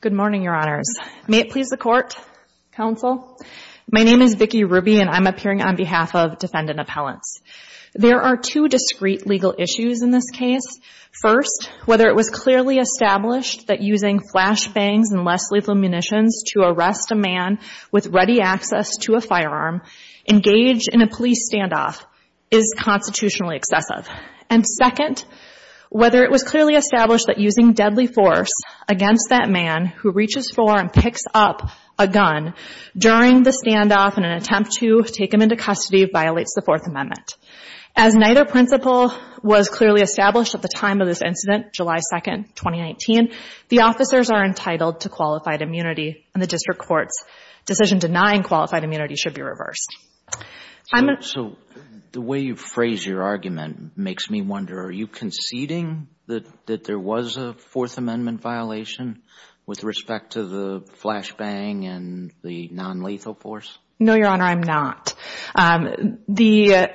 Good morning, Your Honors. May it please the Court, Counsel? My name is Vicki Ruby and I'm appearing on behalf of Defendant Appellants. There are two discreet legal issues in this case. First, whether it was clearly established that using flashbangs and less lethal munitions to arrest a man with ready access to a firearm engaged in a police standoff is constitutionally excessive. And second, whether it was clearly established that using deadly force against that man who reaches for and picks up a gun during the standoff in an attempt to take him into custody violates the Fourth Amendment. As neither principle was clearly established at the time of this incident, July 2, 2019, the officers are entitled to qualified immunity and the District Court's decision denying qualified immunity should be reversed. So the way you phrase your argument makes me wonder, are you conceding that there was a Fourth Amendment violation with respect to the flashbang and the nonlethal force? No, Your Honor, I'm not. The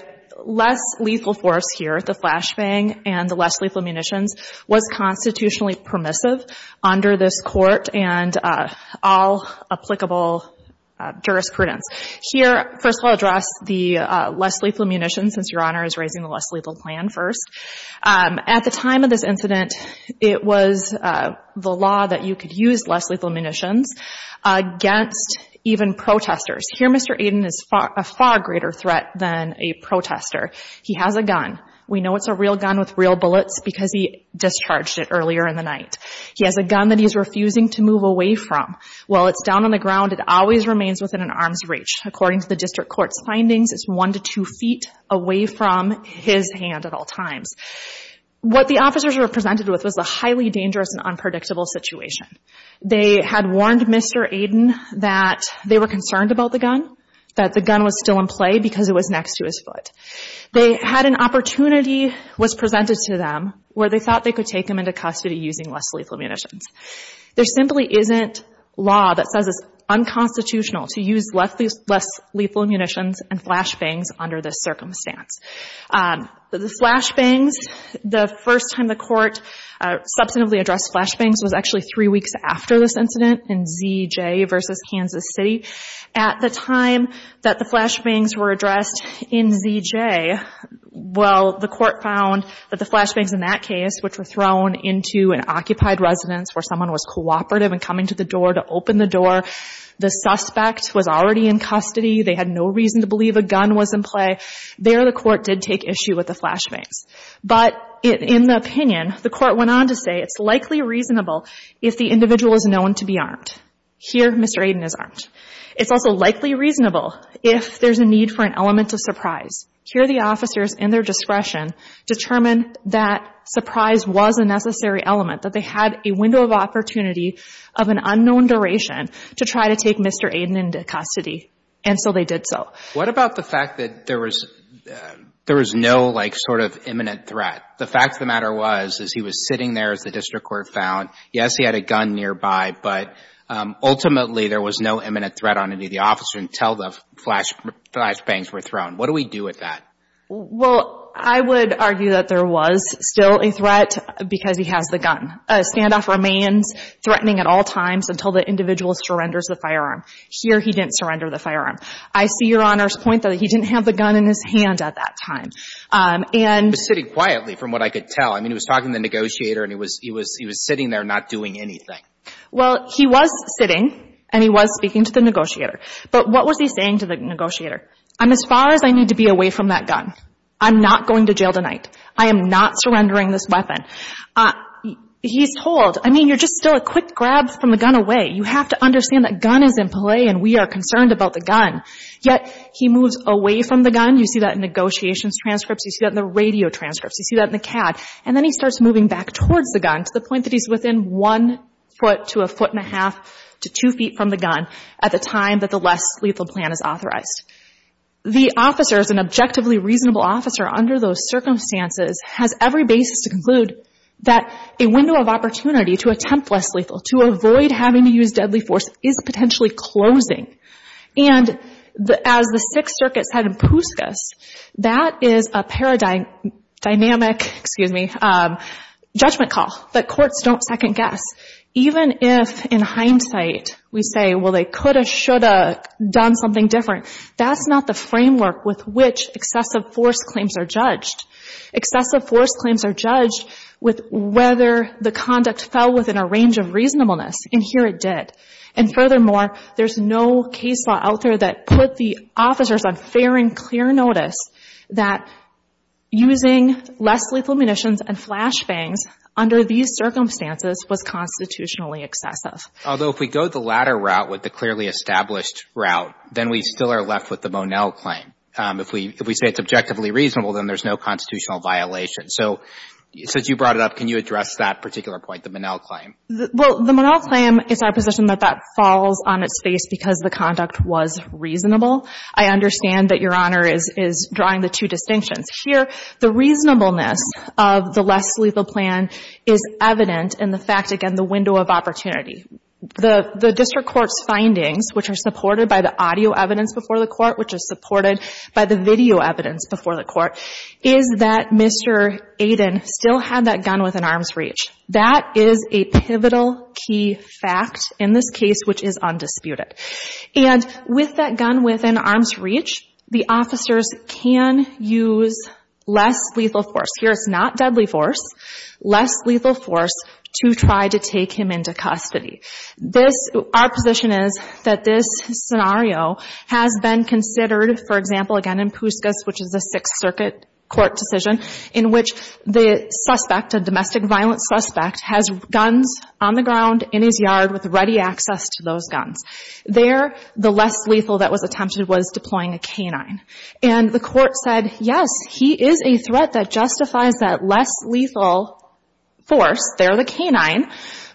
less lethal force here, the flashbang and the less lethal munitions, was constitutionally permissive under this Court and all applicable jurisprudence. Here, first of all, I'll address the less lethal munitions, since Your Honor is raising the less lethal plan first. At the time of this incident, it was the law that you could use less lethal munitions against even protesters. Here, Mr. Aden is a far greater threat than a protester. He has a gun. We know it's a real gun with real bullets because he discharged it earlier in the night. He has a gun that he's refusing to move away from. While it's down on the ground, it always remains within an arm's reach. According to the District Court's findings, it's one to two feet away from his hand at all times. What the officers were presented with was a highly dangerous and unpredictable situation. They had warned Mr. Aden that they were concerned about the gun, that the gun was still in play because it was next to his foot. They had an opportunity was presented to them where they thought they could take him into custody using less lethal munitions. There simply isn't law that says it's unconstitutional to use less lethal munitions and flashbangs under this circumstance. The flashbangs, the first time the Court substantively addressed flashbangs was actually three weeks after this incident in ZJ versus Kansas City. At the time that the flashbangs were addressed in ZJ, well, the Court found that the flashbangs in that case, which were thrown into an occupied residence where someone was cooperative and coming to the door to open the door, the suspect was already in custody. They had no reason to believe a gun was in play. There the Court did take issue with the flashbangs. But in the opinion, the Court went on to say it's likely reasonable if the individual is known to be armed. Here Mr. Aden is armed. It's also likely reasonable if there's a need for an element of surprise. Here the officers in their discretion determined that surprise was a necessary element, that they had a window of opportunity of an unknown duration to try to take Mr. Aden into custody. And so they did so. What about the fact that there was no like sort of imminent threat? The fact of the matter was, is he was sitting there as the District Court found. Yes, he had a gun nearby, but ultimately there was no imminent threat on any of the officers until the flashbangs were thrown. What do we do with that? Well, I would argue that there was still a threat because he has the gun. A standoff remains threatening at all times until the individual surrenders the firearm. Here he didn't surrender the firearm. I see Your Honor's point that he didn't have the gun in his hand at that time. And he was sitting quietly from what I could tell. I mean, he was talking to the negotiator and he was sitting there not doing anything. Well, he was sitting and he was speaking to the negotiator. But what was he saying to the negotiator? I'm as far as I need to be away from that gun. I'm not going to jail tonight. I am not surrendering this weapon. He's told, I mean, you're just still a quick grab from the gun away. You have to understand that gun is in play and we are concerned about the gun. Yet he moves away from the gun. You see that in negotiations transcripts. You see that in the radio transcripts. You see that in the CAD. And then he starts moving back towards the gun to the point that he's within one foot to a foot and a half to two feet from the gun at the time that the less lethal plan is authorized. The officer is an objectively reasonable officer under those circumstances has every basis to conclude that a window of opportunity to attempt less lethal, to avoid having to use is a paradigm, dynamic, excuse me, judgment call that courts don't second guess. Even if in hindsight we say, well, they could have, should have done something different. That's not the framework with which excessive force claims are judged. Excessive force claims are judged with whether the conduct fell within a range of reasonableness. And here it did. And furthermore, there's no case law out there that put the officers on fair and clear notice that using less lethal munitions and flash bangs under these circumstances was constitutionally excessive. Although if we go the latter route with the clearly established route, then we still are left with the Monell claim. If we, if we say it's objectively reasonable, then there's no constitutional violation. So since you brought it up, can you address that particular point, the Monell claim? Well, the Monell claim is our position that that falls on its face because the conduct was reasonable. I understand that Your Honor is, is drawing the two distinctions. Here, the reasonableness of the less lethal plan is evident in the fact, again, the window of opportunity. The, the district court's findings, which are supported by the audio evidence before the court, which is supported by the video evidence before the court, is that Mr. Aden still had that gun within arm's reach. That is a pivotal key fact in this case, which is undisputed. And with that gun within arm's reach, the officers can use less lethal force. Here, it's not deadly force, less lethal force to try to take him into custody. This, our position is that this scenario has been considered, for example, again, in Puskas, which is a Sixth Circuit court decision, in which the suspect, a domestic violence suspect, has guns on the ground in his yard with ready access to those guns. There, the less lethal that was attempted was deploying a K-9. And the court said, yes, he is a threat that justifies that less lethal force, there, the K-9,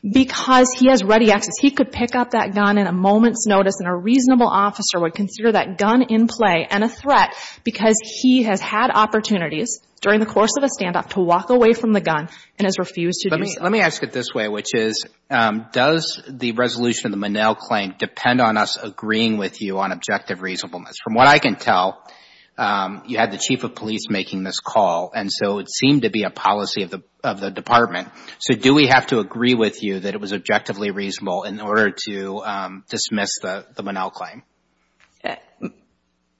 because he has ready access. He could pick up that gun in a moment's notice, and a reasonable officer would consider that gun in play and a threat because he has had opportunities during the course of a standoff to walk away from the gun and has refused to do so. Let me ask it this way, which is, does the resolution of the Monell Claim depend on us agreeing with you on objective reasonableness? From what I can tell, you had the Chief of Police making this call, and so it seemed to be a policy of the Department. So do we have to agree with you that it was objectively reasonable in order to dismiss the Monell Claim?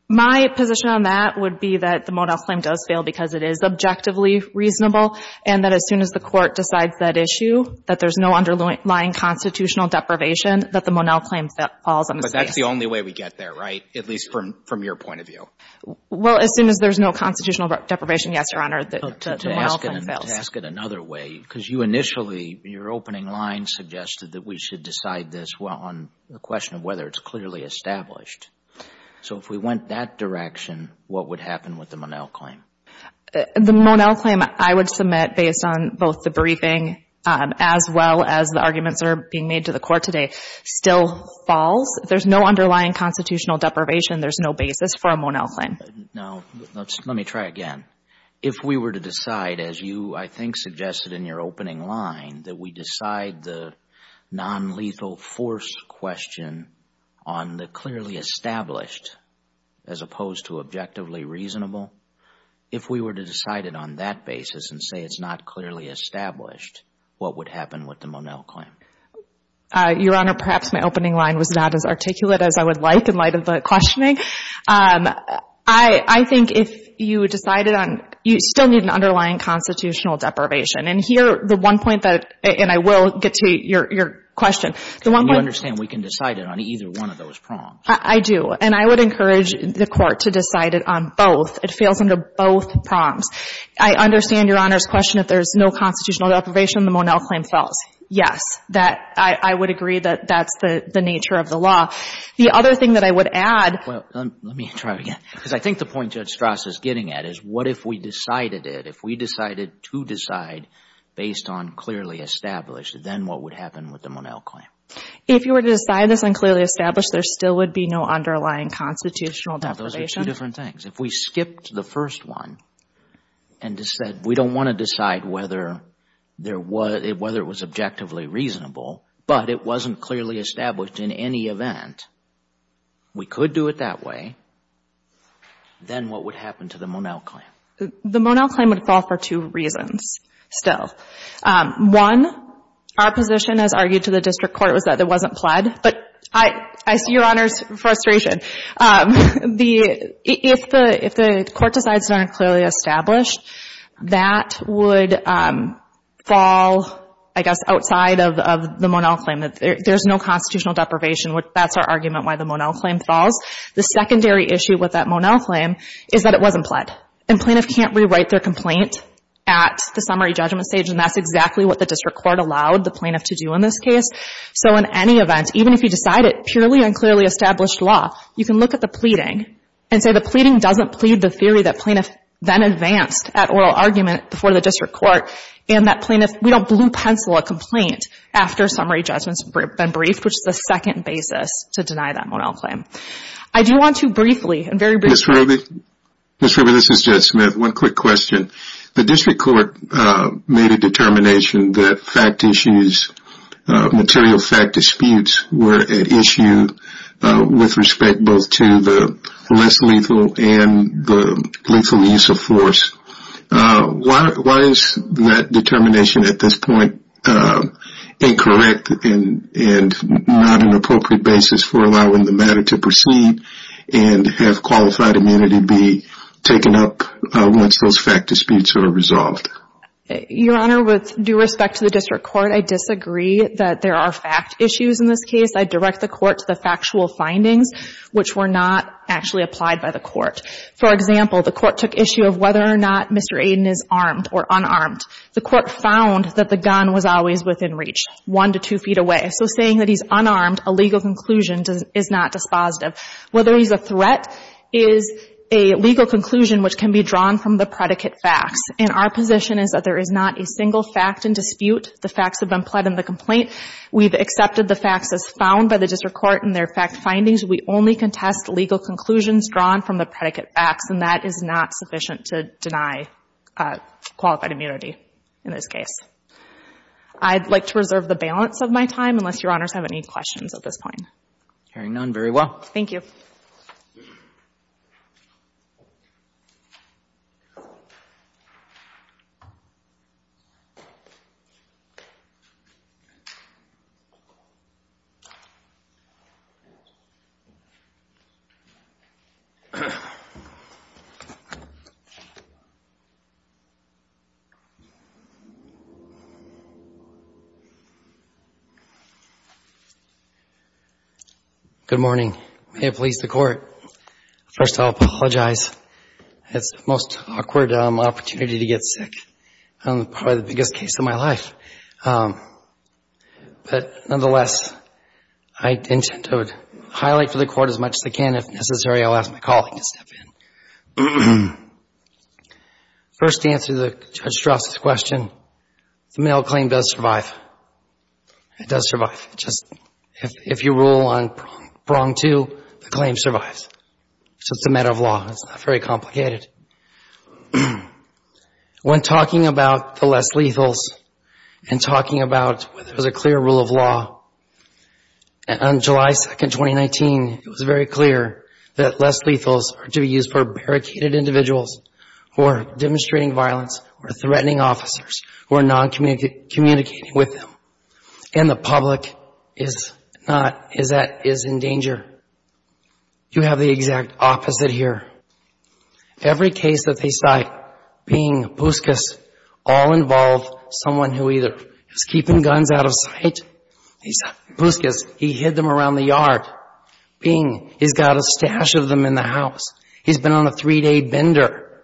My position on that would be that the Monell Claim does fail because it is objectively reasonable, and that as soon as the Court decides that issue, that there is no underlying constitutional deprivation, that the Monell Claim falls on its face. But that's the only way we get there, right, at least from your point of view? Well, as soon as there is no constitutional deprivation, yes, Your Honor, the Monell Claim To ask it another way, because you initially, in your opening line, suggested that we should decide this on the question of whether it's clearly established. So if we went that direction, what would happen with the Monell Claim? The Monell Claim, I would submit, based on both the briefing as well as the arguments that are being made to the Court today, still falls. There is no underlying constitutional deprivation. There is no basis for a Monell Claim. Now, let me try again. If we were to decide, as you, I think, suggested in your opening line, that we decide the nonlethal force question on the clearly established as opposed to objectively reasonable, if we were to decide it on that basis and say it's not clearly established, what would happen with the Monell Claim? Your Honor, perhaps my opening line was not as articulate as I would like in light of the questioning. I think if you decided on, you still need an underlying constitutional deprivation. And here, the one point that, and I will get to your question, the one point You understand we can decide it on either one of those prongs. I do. And I would encourage the Court to decide it on both. It fails under both prongs. I understand Your Honor's question, if there is no constitutional deprivation, the Monell Claim falls. Yes. That, I would agree that that's the nature of the law. The other thing that I would add Well, let me try again. Because I think the point Judge Strass is getting at is, what if we decided it, if we decided to decide based on clearly established, then what would happen with the Monell Claim? If you were to decide this on clearly established, there still would be no underlying constitutional deprivation? Those are two different things. If we skipped the first one and said we don't want to decide whether it was objectively reasonable, but it wasn't clearly established in any event, we could do it that way, then what would happen to the Monell Claim? The Monell Claim would fall for two reasons still. One, our position as argued to the district court was that it wasn't pled, but I see Your Honor's frustration. If the court decides it's not clearly established, that would fall, I guess, outside of the Monell Claim, that there's no constitutional deprivation. That's our argument why the Monell Claim falls. The secondary issue with that Monell Claim is that it wasn't pled, and plaintiff can't rewrite their complaint at the summary judgment stage, and that's exactly what the district court allowed the plaintiff to do in this case. So in any event, even if you decide it purely unclearly established law, you can look at the pleading and say the pleading doesn't plead the theory that plaintiff then advanced at oral argument before the district court, and that plaintiff, we don't blue pencil a complaint after summary judgment's been briefed, which is the second basis to deny that Monell Claim. I do want to briefly, and very briefly- Ms. Ruby? Ms. Ruby, this is Jed Smith. One quick question. The district court made a determination that fact issues, material fact disputes were at issue with respect both to the less lethal and the lethal use of force. Why is that determination at this point incorrect and not an appropriate basis for allowing the matter to proceed and have qualified immunity be taken up once those fact disputes are resolved? Your Honor, with due respect to the district court, I disagree that there are fact issues in this case. I direct the court to the factual findings, which were not actually applied by the court. For example, the court took issue of whether or not Mr. Aden is armed or unarmed. The court found that the gun was always within reach, one to two feet away. So saying that he's unarmed, a legal conclusion is not dispositive. Whether he's a threat is a legal conclusion, which can be drawn from the predicate facts. And our position is that there is not a single fact in dispute. The facts have been pled in the complaint. We've accepted the facts as found by the district court in their fact findings. We only contest legal conclusions drawn from the predicate facts, and that is not sufficient to deny qualified immunity in this case. I'd like to reserve the balance of my time, unless Your Honors have any questions at this point. Hearing none, very well. Thank you. Good morning. May I please have your attention for a moment? First, I'd like to apologize. It's the most awkward opportunity to get sick. It's probably the biggest case of my life. But nonetheless, I intend to highlight for the Court as much as I can. If necessary, I'll ask my colleague to step in. First to answer Judge Strzok's question, the male claim does survive. It does survive. Just if you rule on prong two, the claim survives. So it's a matter of law. It's not very complicated. When talking about the less lethals and talking about whether there's a clear rule of law, on July 2nd, 2019, it was very clear that less lethals are to be used for barricaded individuals who are demonstrating violence or threatening officers who are not communicating with them. And the public is not, is in danger. You have the exact opposite here. Every case that they cite, Bing, Buskus, all involve someone who either is keeping guns out of sight, Buskus, he hid them around the yard. Bing, he's got a stash of them in the house. He's been on a three-day bender.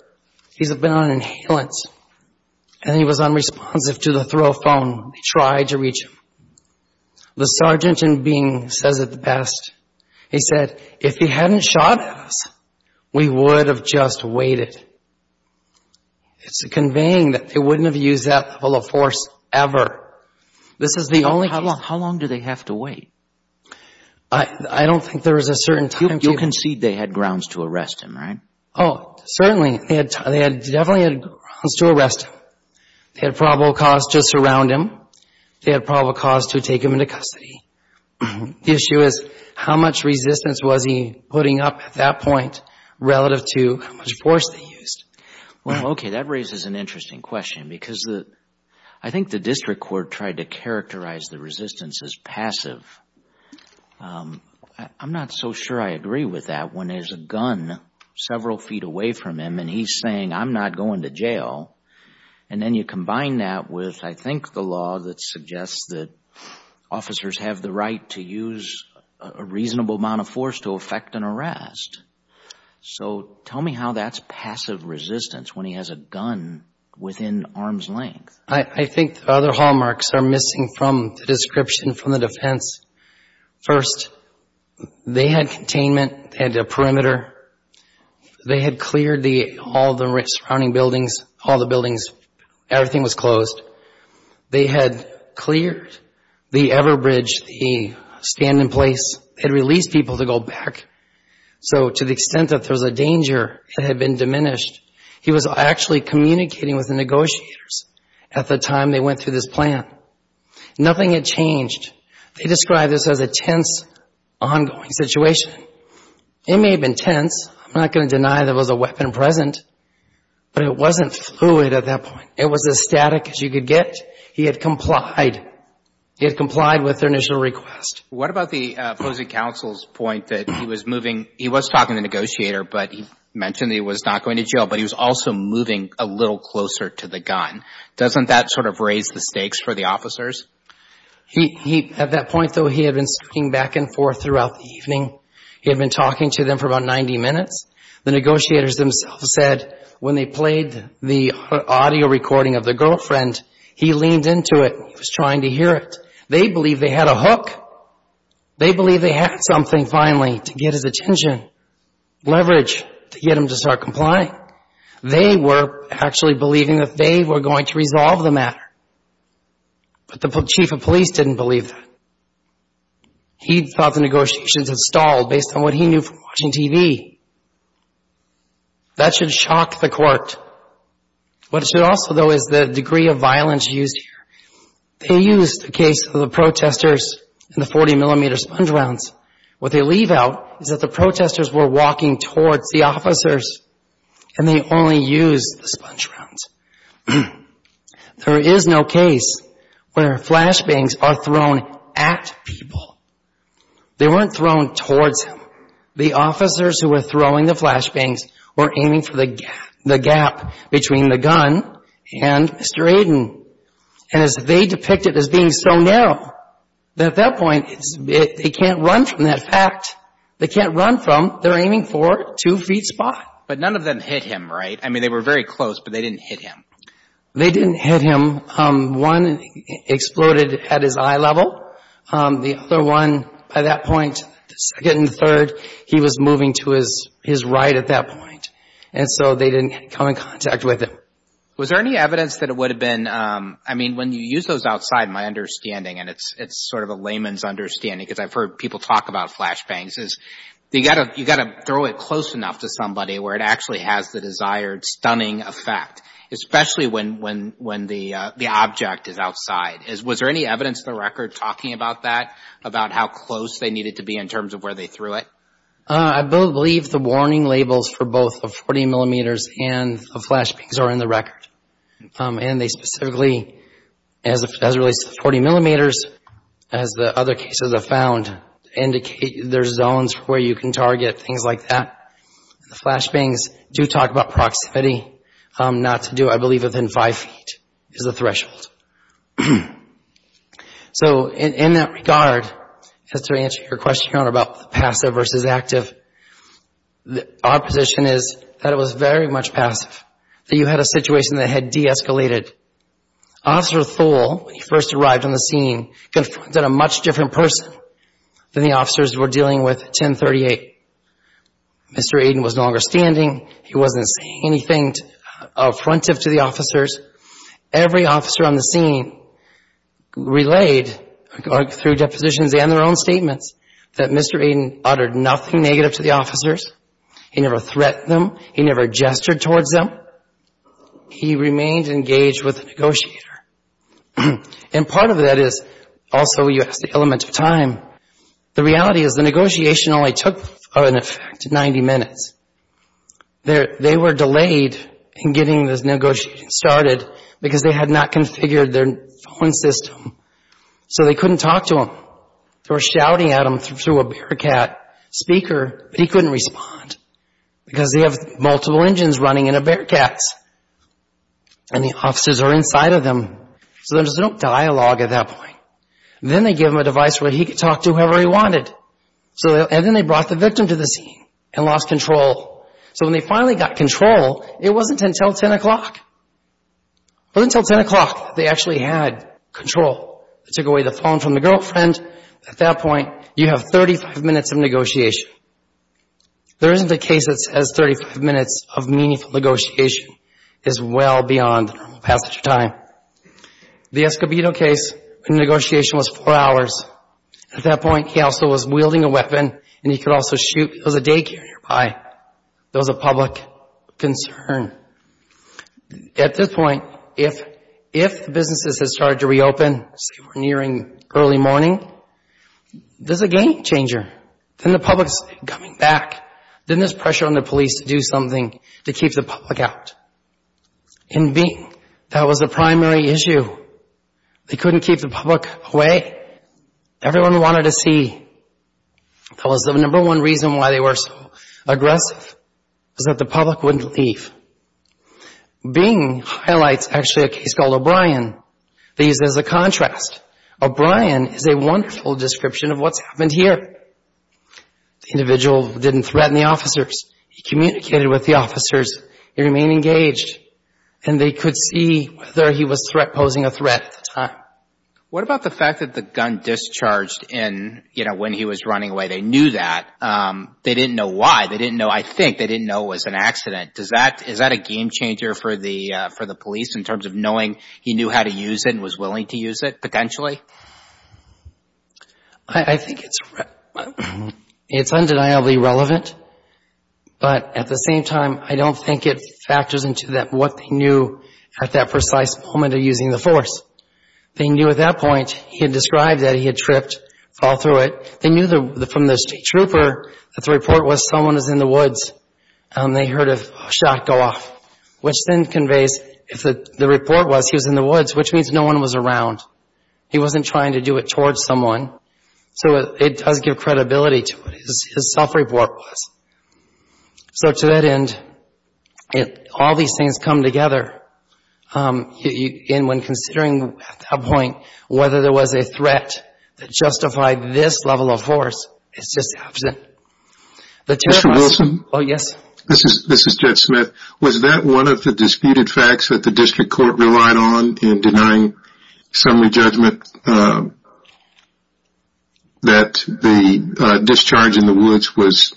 He's been on inhalants. And he was unresponsive to the throw phone. They tried to reach him. The sergeant in Bing says it best. He said, if he hadn't shot us, we would have just waited. It's conveying that they wouldn't have used that level of force ever. This is the only case. How long do they have to wait? I don't think there is a certain time period. You concede they had grounds to arrest him, right? Oh, certainly. They definitely had grounds to arrest him. They had probable cause to surround him. They had probable cause to take him into custody. The issue is how much resistance was he putting up at that point relative to how much force they used. Well, okay. That raises an interesting question because I think the district court tried to characterize the resistance as passive. I'm not so sure I agree with that when there's a gun several feet away from him and he's saying, I'm not going to jail. And then you combine that with, I think, the law that suggests that officers have the right to use a reasonable amount of force to effect an arrest. So tell me how that's passive resistance when he has a gun within arm's length. I think the other hallmarks are missing from the description from the defense. First, they had containment. They had a perimeter. They had cleared all the surrounding buildings, all the buildings. Everything was closed. They had cleared the Everbridge, the stand in place. They had released people to go back. So to the extent that there was a danger that had been diminished, he was actually communicating with the negotiators at the time they went through this plan. Nothing had changed. They described this as a tense, ongoing situation. It may have been tense. I'm not going to deny there was a weapon present, but it wasn't fluid at that point. It was as static as you could get. He had complied. He had complied with their initial request. What about the opposing counsel's point that he was moving, he was talking to the negotiator, but he mentioned that he was not going to jail, but he was also moving a little closer to the gun. Doesn't that sort of raise the stakes for the officers? At that point, though, he had been speaking back and forth throughout the evening. He had been talking to them for about 90 minutes. The negotiators themselves said when they played the audio recording of the girlfriend, he leaned into it. He was trying to hear it. They believed they had a hook. They believed they had something, finally, to get his attention, leverage to get him to start complying. They were actually believing that they were going to resolve the matter, but the chief of police didn't believe that. He thought the negotiations had stalled based on what he knew from watching TV. That should shock the court. What should also, though, is the degree of violence used here. They used the case of the protesters and the 40mm sponge rounds. What they leave out is that the protesters were walking towards the officers, and they only used the sponge rounds. There is no case where flashbangs are thrown at people. They weren't thrown towards him. The officers who were throwing the flashbangs were aiming for the gap between the gun and Mr. Aden. As they saw, at that point, they can't run from that fact. They can't run from, they're aiming for, two feet spot. But none of them hit him, right? I mean, they were very close, but they didn't hit him. They didn't hit him. One exploded at his eye level. The other one, by that point, the second and third, he was moving to his right at that point, and so they didn't come in contact with him. Was there any evidence that it would have been, I mean, when you use those outside my understanding, and it's sort of a layman's understanding, because I've heard people talk about flashbangs, is you've got to throw it close enough to somebody where it actually has the desired stunning effect, especially when the object is outside. Was there any evidence in the record talking about that, about how close they needed to be in terms of where they threw it? I believe the warning labels for both the 40mm and the flashbangs are in the record, and they specifically, as it relates to the 40mm, as the other cases I've found, indicate there's zones where you can target things like that. The flashbangs do talk about proximity. Not to do, I believe, within five feet is the threshold. So in that regard, just to answer your question, Your Honor, about passive versus active, our position is that it was very much passive, that you had a situation that had de-escalated. Officer Thole, when he first arrived on the scene, confronted a much different person than the officers were dealing with at 1038. Mr. Aiden was no longer standing. He wasn't saying anything affrontive to the officers. Every officer on the scene relayed, through depositions and their own statements, that Mr. Aiden uttered nothing negative to the officers. He never threatened them. He never gestured towards them. He remained engaged with the negotiator. And part of that is, also, you asked the element of time. The reality is the negotiation only took, in effect, 90 minutes. They were delayed in getting this negotiation started because they had not configured their phone system, so they couldn't talk to him. They were shouting at him through a Bearcat speaker, but he couldn't respond because they have multiple engines running in a Bearcat, and the officers are inside of them. So there was no dialogue at that point. Then they gave him a device where he could talk to whoever he wanted, and then they brought the victim to the scene and lost control. So when they finally got control, it wasn't until 10 o'clock. It wasn't until 10 o'clock that they actually had control. They took the case. At that point, you have 35 minutes of negotiation. There isn't a case that has 35 minutes of meaningful negotiation. It's well beyond the normal passage of time. The Escobedo case, the negotiation was four hours. At that point, he also was wielding a weapon, and he could also shoot. There was a daycare nearby. There was a public concern. At this point, if businesses had started to reopen, say we're nearing early morning, there's a game changer. Then the public is coming back. Then there's pressure on the police to do something to keep the public out. That was the primary issue. They couldn't keep the public away. Everyone wanted to see. That was the number one reason why they were so aggressive, is that the public wouldn't leave. Bing highlights actually a case called O'Brien. They use it as a contrast. O'Brien is a wonderful description of what's happened here. The individual didn't threaten the officers. He communicated with the officers. He remained engaged, and they could see whether he was posing a threat at the time. What about the fact that the gun discharged in, you know, when he was running away? They knew that. They didn't know why. They didn't know, I think, they didn't know it was an accident. Is that a game changer for the police in terms of knowing he knew how to use it and was willing to use it, potentially? I think it's undeniably relevant, but at the same time, I don't think it factors into what they knew at that precise moment of using the force. They knew at that point, he had thrived, that he had tripped, fall through it. They knew from the state trooper that the report was someone is in the woods, and they heard a shot go off, which then conveys if the report was he was in the woods, which means no one was around. He wasn't trying to do it towards someone. So it does give credibility to what his self-report was. So to that end, all these things come together. And when considering at that point whether there was a threat that justified this level of force, it's just absent. Mr. Wilson? Oh, yes. This is Judge Smith. Was that one of the disputed facts that the district court relied on in denying summary judgment that the discharge in the woods was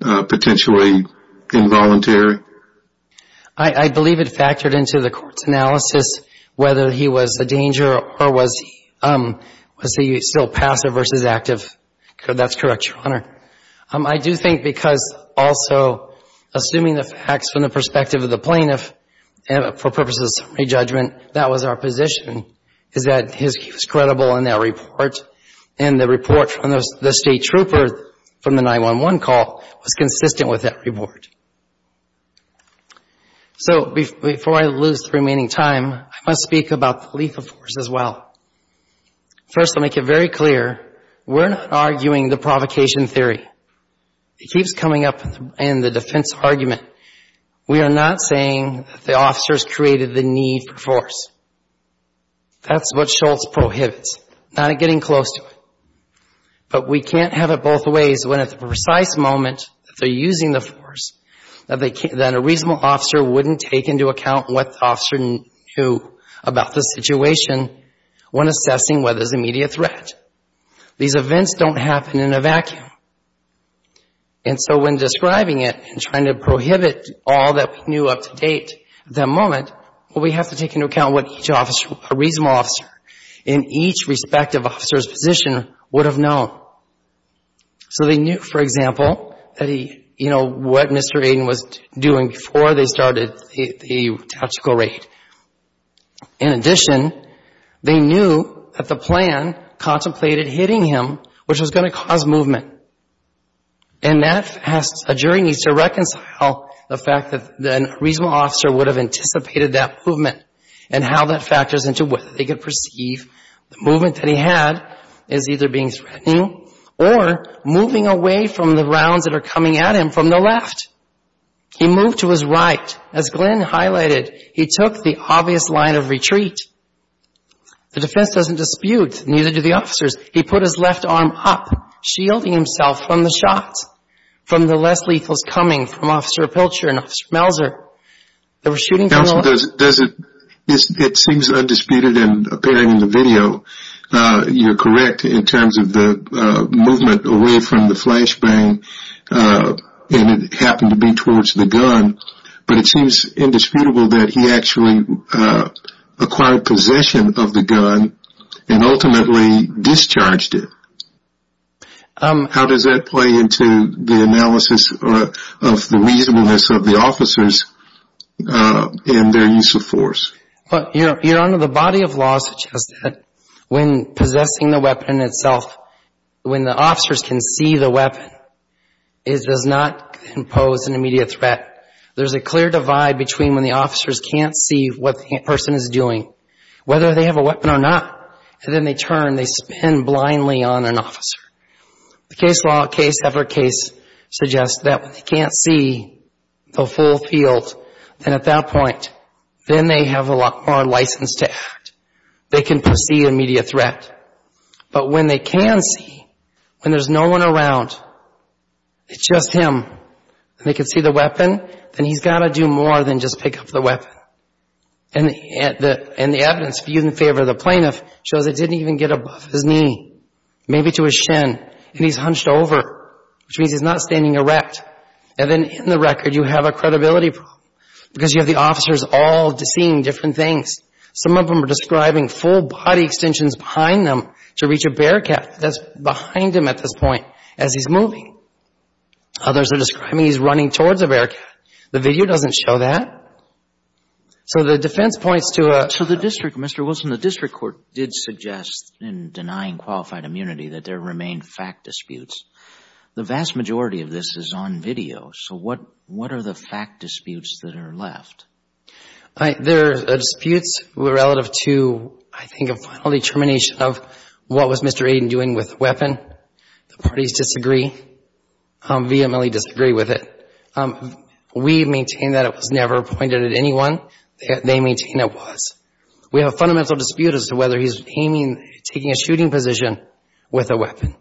potentially involuntary? I believe it factored into the court's analysis whether he was a danger or was he still passive versus active. That's correct, Your Honor. I do think because also assuming the facts from the perspective of the plaintiff for purposes of summary judgment, that was our position is that he was credible in that report, and the report from the state trooper from the 9-1-1 call was consistent with that report. So before I lose the remaining time, I must speak about the lethal force as well. First, I'll make it very clear, we're not arguing the provocation theory. It keeps coming up in the defense argument. We are not saying that the officers created the need for force. That's what Shultz prohibits, not getting close to it. But we can't have it both ways when at the precise moment that they're using the force, that a reasonable officer wouldn't take into account what the officer knew about the situation when assessing whether there's immediate threat. These events don't happen in a vacuum. And so when describing it and trying to prohibit all that we knew up to date at that moment, well, we have to take into account what each officer, a reasonable officer in each respective officer's position would have known. So they knew, for example, that he, you know, what Mr. Aden was doing before they started the tactical raid. In addition, they knew that the plan contemplated hitting him, which was going to cause movement. And that has, a jury needs to reconcile the fact that a reasonable officer would have anticipated that movement and how that factors into whether they could perceive the movement that he had as either being threatening or moving away from the rounds that are coming at him from the left. He moved to his right. As Glenn highlighted, he took the obvious line of retreat. The defense doesn't dispute, neither do the officers. He put his left arm up, shielding himself from the shots, from the less lethal's coming from Officer Pilcher and Officer Melzer. They were shooting from a distance. You're undisputed in appearing in the video. You're correct in terms of the movement away from the flashbang, and it happened to be towards the gun. But it seems indisputable that he actually acquired possession of the gun and ultimately discharged it. How does that play into the analysis of the reasonableness of the officers in their use of force? Your Honor, the body of law suggests that when possessing the weapon itself, when the officers can see the weapon, it does not impose an immediate threat. There's a clear divide between when the officers can't see what the person is doing, whether they have a weapon or not, and then they turn, they spin blindly on an officer. The case law, case after case suggests that when they can't see the full field, then at that point, then they have a lot more license to act. They can perceive immediate threat. But when they can see, when there's no one around, it's just him, and they can see the weapon, then he's got to do more than just pick up the weapon. And the evidence viewed in favor of the plaintiff shows it didn't even get above his knee, maybe to his shin, and he's hunched over, which means he's not standing erect. And then, in the record, you have a credibility problem because you have the officers all seeing different things. Some of them are describing full body extensions behind them to reach a bearcat that's behind him at this point as he's moving. Others are describing he's running towards a bearcat. The video doesn't show that. So the defense points to a — So the district, Mr. Wilson, the district court did suggest in denying qualified immunity that there remained fact disputes. The vast majority of this is on video. So what are the fact disputes that are left? There are disputes relative to, I think, a final determination of what was Mr. Aden doing with the weapon. The parties disagree. VMLE disagree with it. We maintain that it was never pointed at anyone. They maintain it was. We have a fundamental dispute as to whether he's aiming — taking a shooting position with a weapon.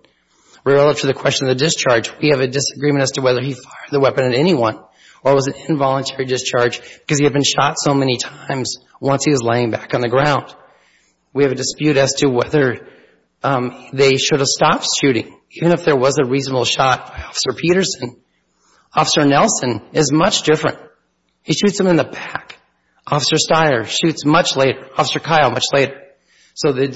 Relative to the question of the discharge, we have a disagreement as to whether he fired the weapon at anyone or was an involuntary discharge because he had been shot so many times once he was laying back on the ground. We have a dispute as to whether they should have stopped shooting, even if there was a reasonable shot by Officer Peterson. Officer Nelson is much different. He shoots him in the back. Officer Steyer shoots much later. Officer Kyle, much later. So the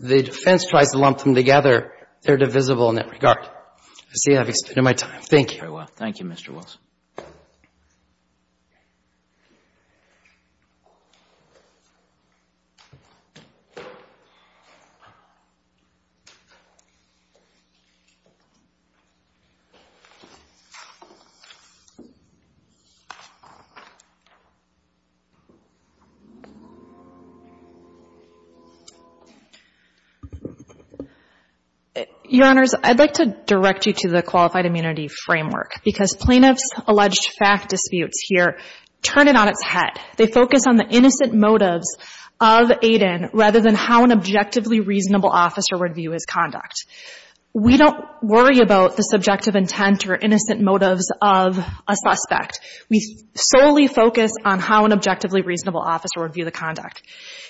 defense tries to lump them together. They're divisible in that regard. I see I've expended my time. Thank you. Thank you, Mr. Wilson. Your Honors, I'd like to direct you to the Qualified Immunity Framework because plaintiffs' alleged fact disputes here turn it on its head. They focus on the innocent motives of Aden rather than how an objectively reasonable officer would view his conduct. We don't worry about the subjective intent or innocent motives of a suspect. We solely focus on how an objectively reasonable officer would view the conduct.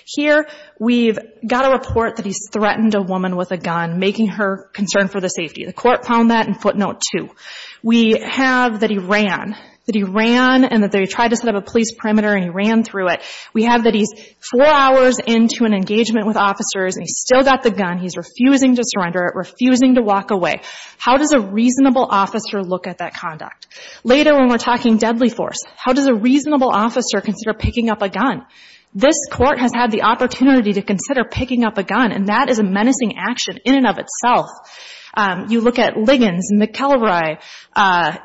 Here we've got a report that he's threatened a woman with a gun, making her concerned for the safety. The court found that in footnote two. We have that he ran, that he ran and that they tried to set up a police perimeter and he ran through it. We have that he's four hours into an engagement with officers and he's still got the gun. He's refusing to surrender it, refusing to walk away. How does a reasonable officer look at that conduct? Later when we're talking deadly force, how does a reasonable officer consider picking up a gun? This Court has had the opportunity to consider picking up a gun and that is a menacing action in and of itself. You look at Liggins, McElroy.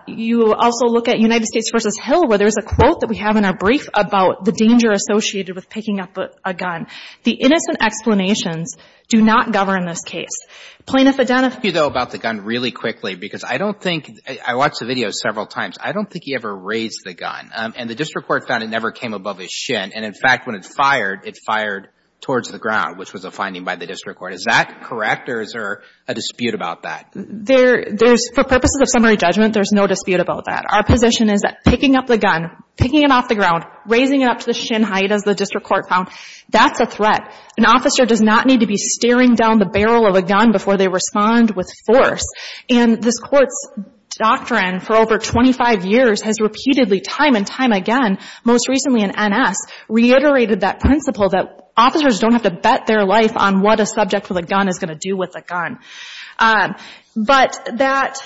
You also look at United States v. Hill where there's a quote that we have in our brief about the danger associated with picking up a gun. The innocent explanations do not govern this case. Plaintiff identified... Let me ask you about the gun really quickly because I don't think, I watched the video several times, I don't think he ever raised the gun and the district court found it never came above his shin and in fact when it fired, it fired towards the ground which was a finding by the district court. Is that correct or is there a dispute about that? There's, for purposes of summary judgment, there's no dispute about that. Our position is that picking up the gun, picking it off the ground, raising it up to the shin height as the district court found, that's a threat. An officer does not need to be staring down the barrel of a gun before they respond with force. And this Court's doctrine for over 25 years has repeatedly, time and time again, most recently in N.S., reiterated that principle that officers don't have to bet their life on what a subject with a gun is going to do with a gun. But that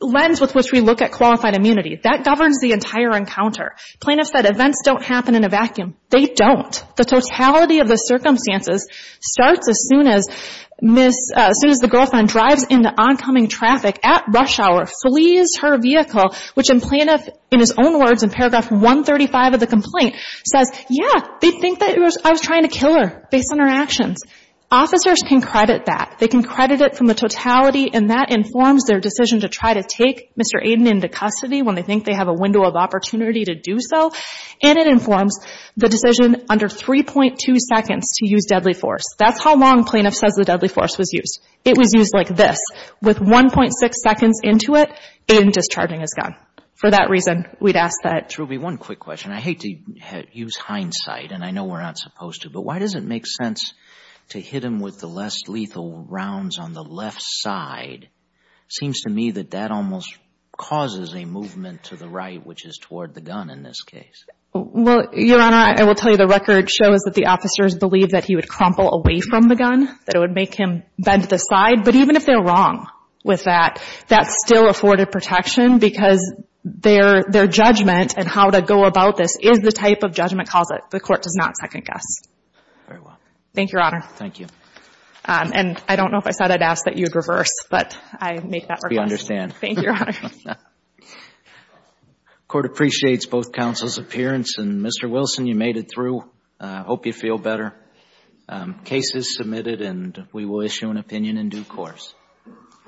lens with which we look at qualified immunity, that governs the entire encounter. Plaintiff said events don't happen in a vacuum. They don't. The totality of the circumstances starts as soon as Miss, as soon as the girlfriend drives into oncoming traffic at rush hour, flees her vehicle, which in plaintiff, in his own words in paragraph 135 of the complaint says, yeah, they think that it was, I was trying to kill her based on her actions. Officers can credit that. They can credit it from the totality and that informs their decision to try to take Mr. Aiden into custody when they think they have a window of opportunity to do so. And it informs the decision under 3.2 seconds to use deadly force. That's how long plaintiff says the deadly force was used. It was used like this. With 1.6 seconds into it, Aiden discharging his gun. For that reason, we'd ask that. Ruby, one quick question. I hate to use hindsight and I know we're not supposed to, but why does it make sense to hit him with the less lethal rounds on the left side? Seems to me that that almost causes a movement to the right, which is toward the gun in this case. Well, Your Honor, I will tell you the record shows that the officers believe that he would crumple away from the gun, that it would make him bend to the side. But even if they're wrong with that, that's still afforded protection because their judgment and how to go about this is the type of judgment calls it. The court does not second guess. Very well. Thank you, Your Honor. Thank you. And I don't know if I said I'd ask that you'd reverse, but I make that request. I hope you understand. Thank you, Your Honor. The court appreciates both counsel's appearance and, Mr. Wilson, you made it through. I hope you feel better. Case is submitted and we will issue an opinion in due course.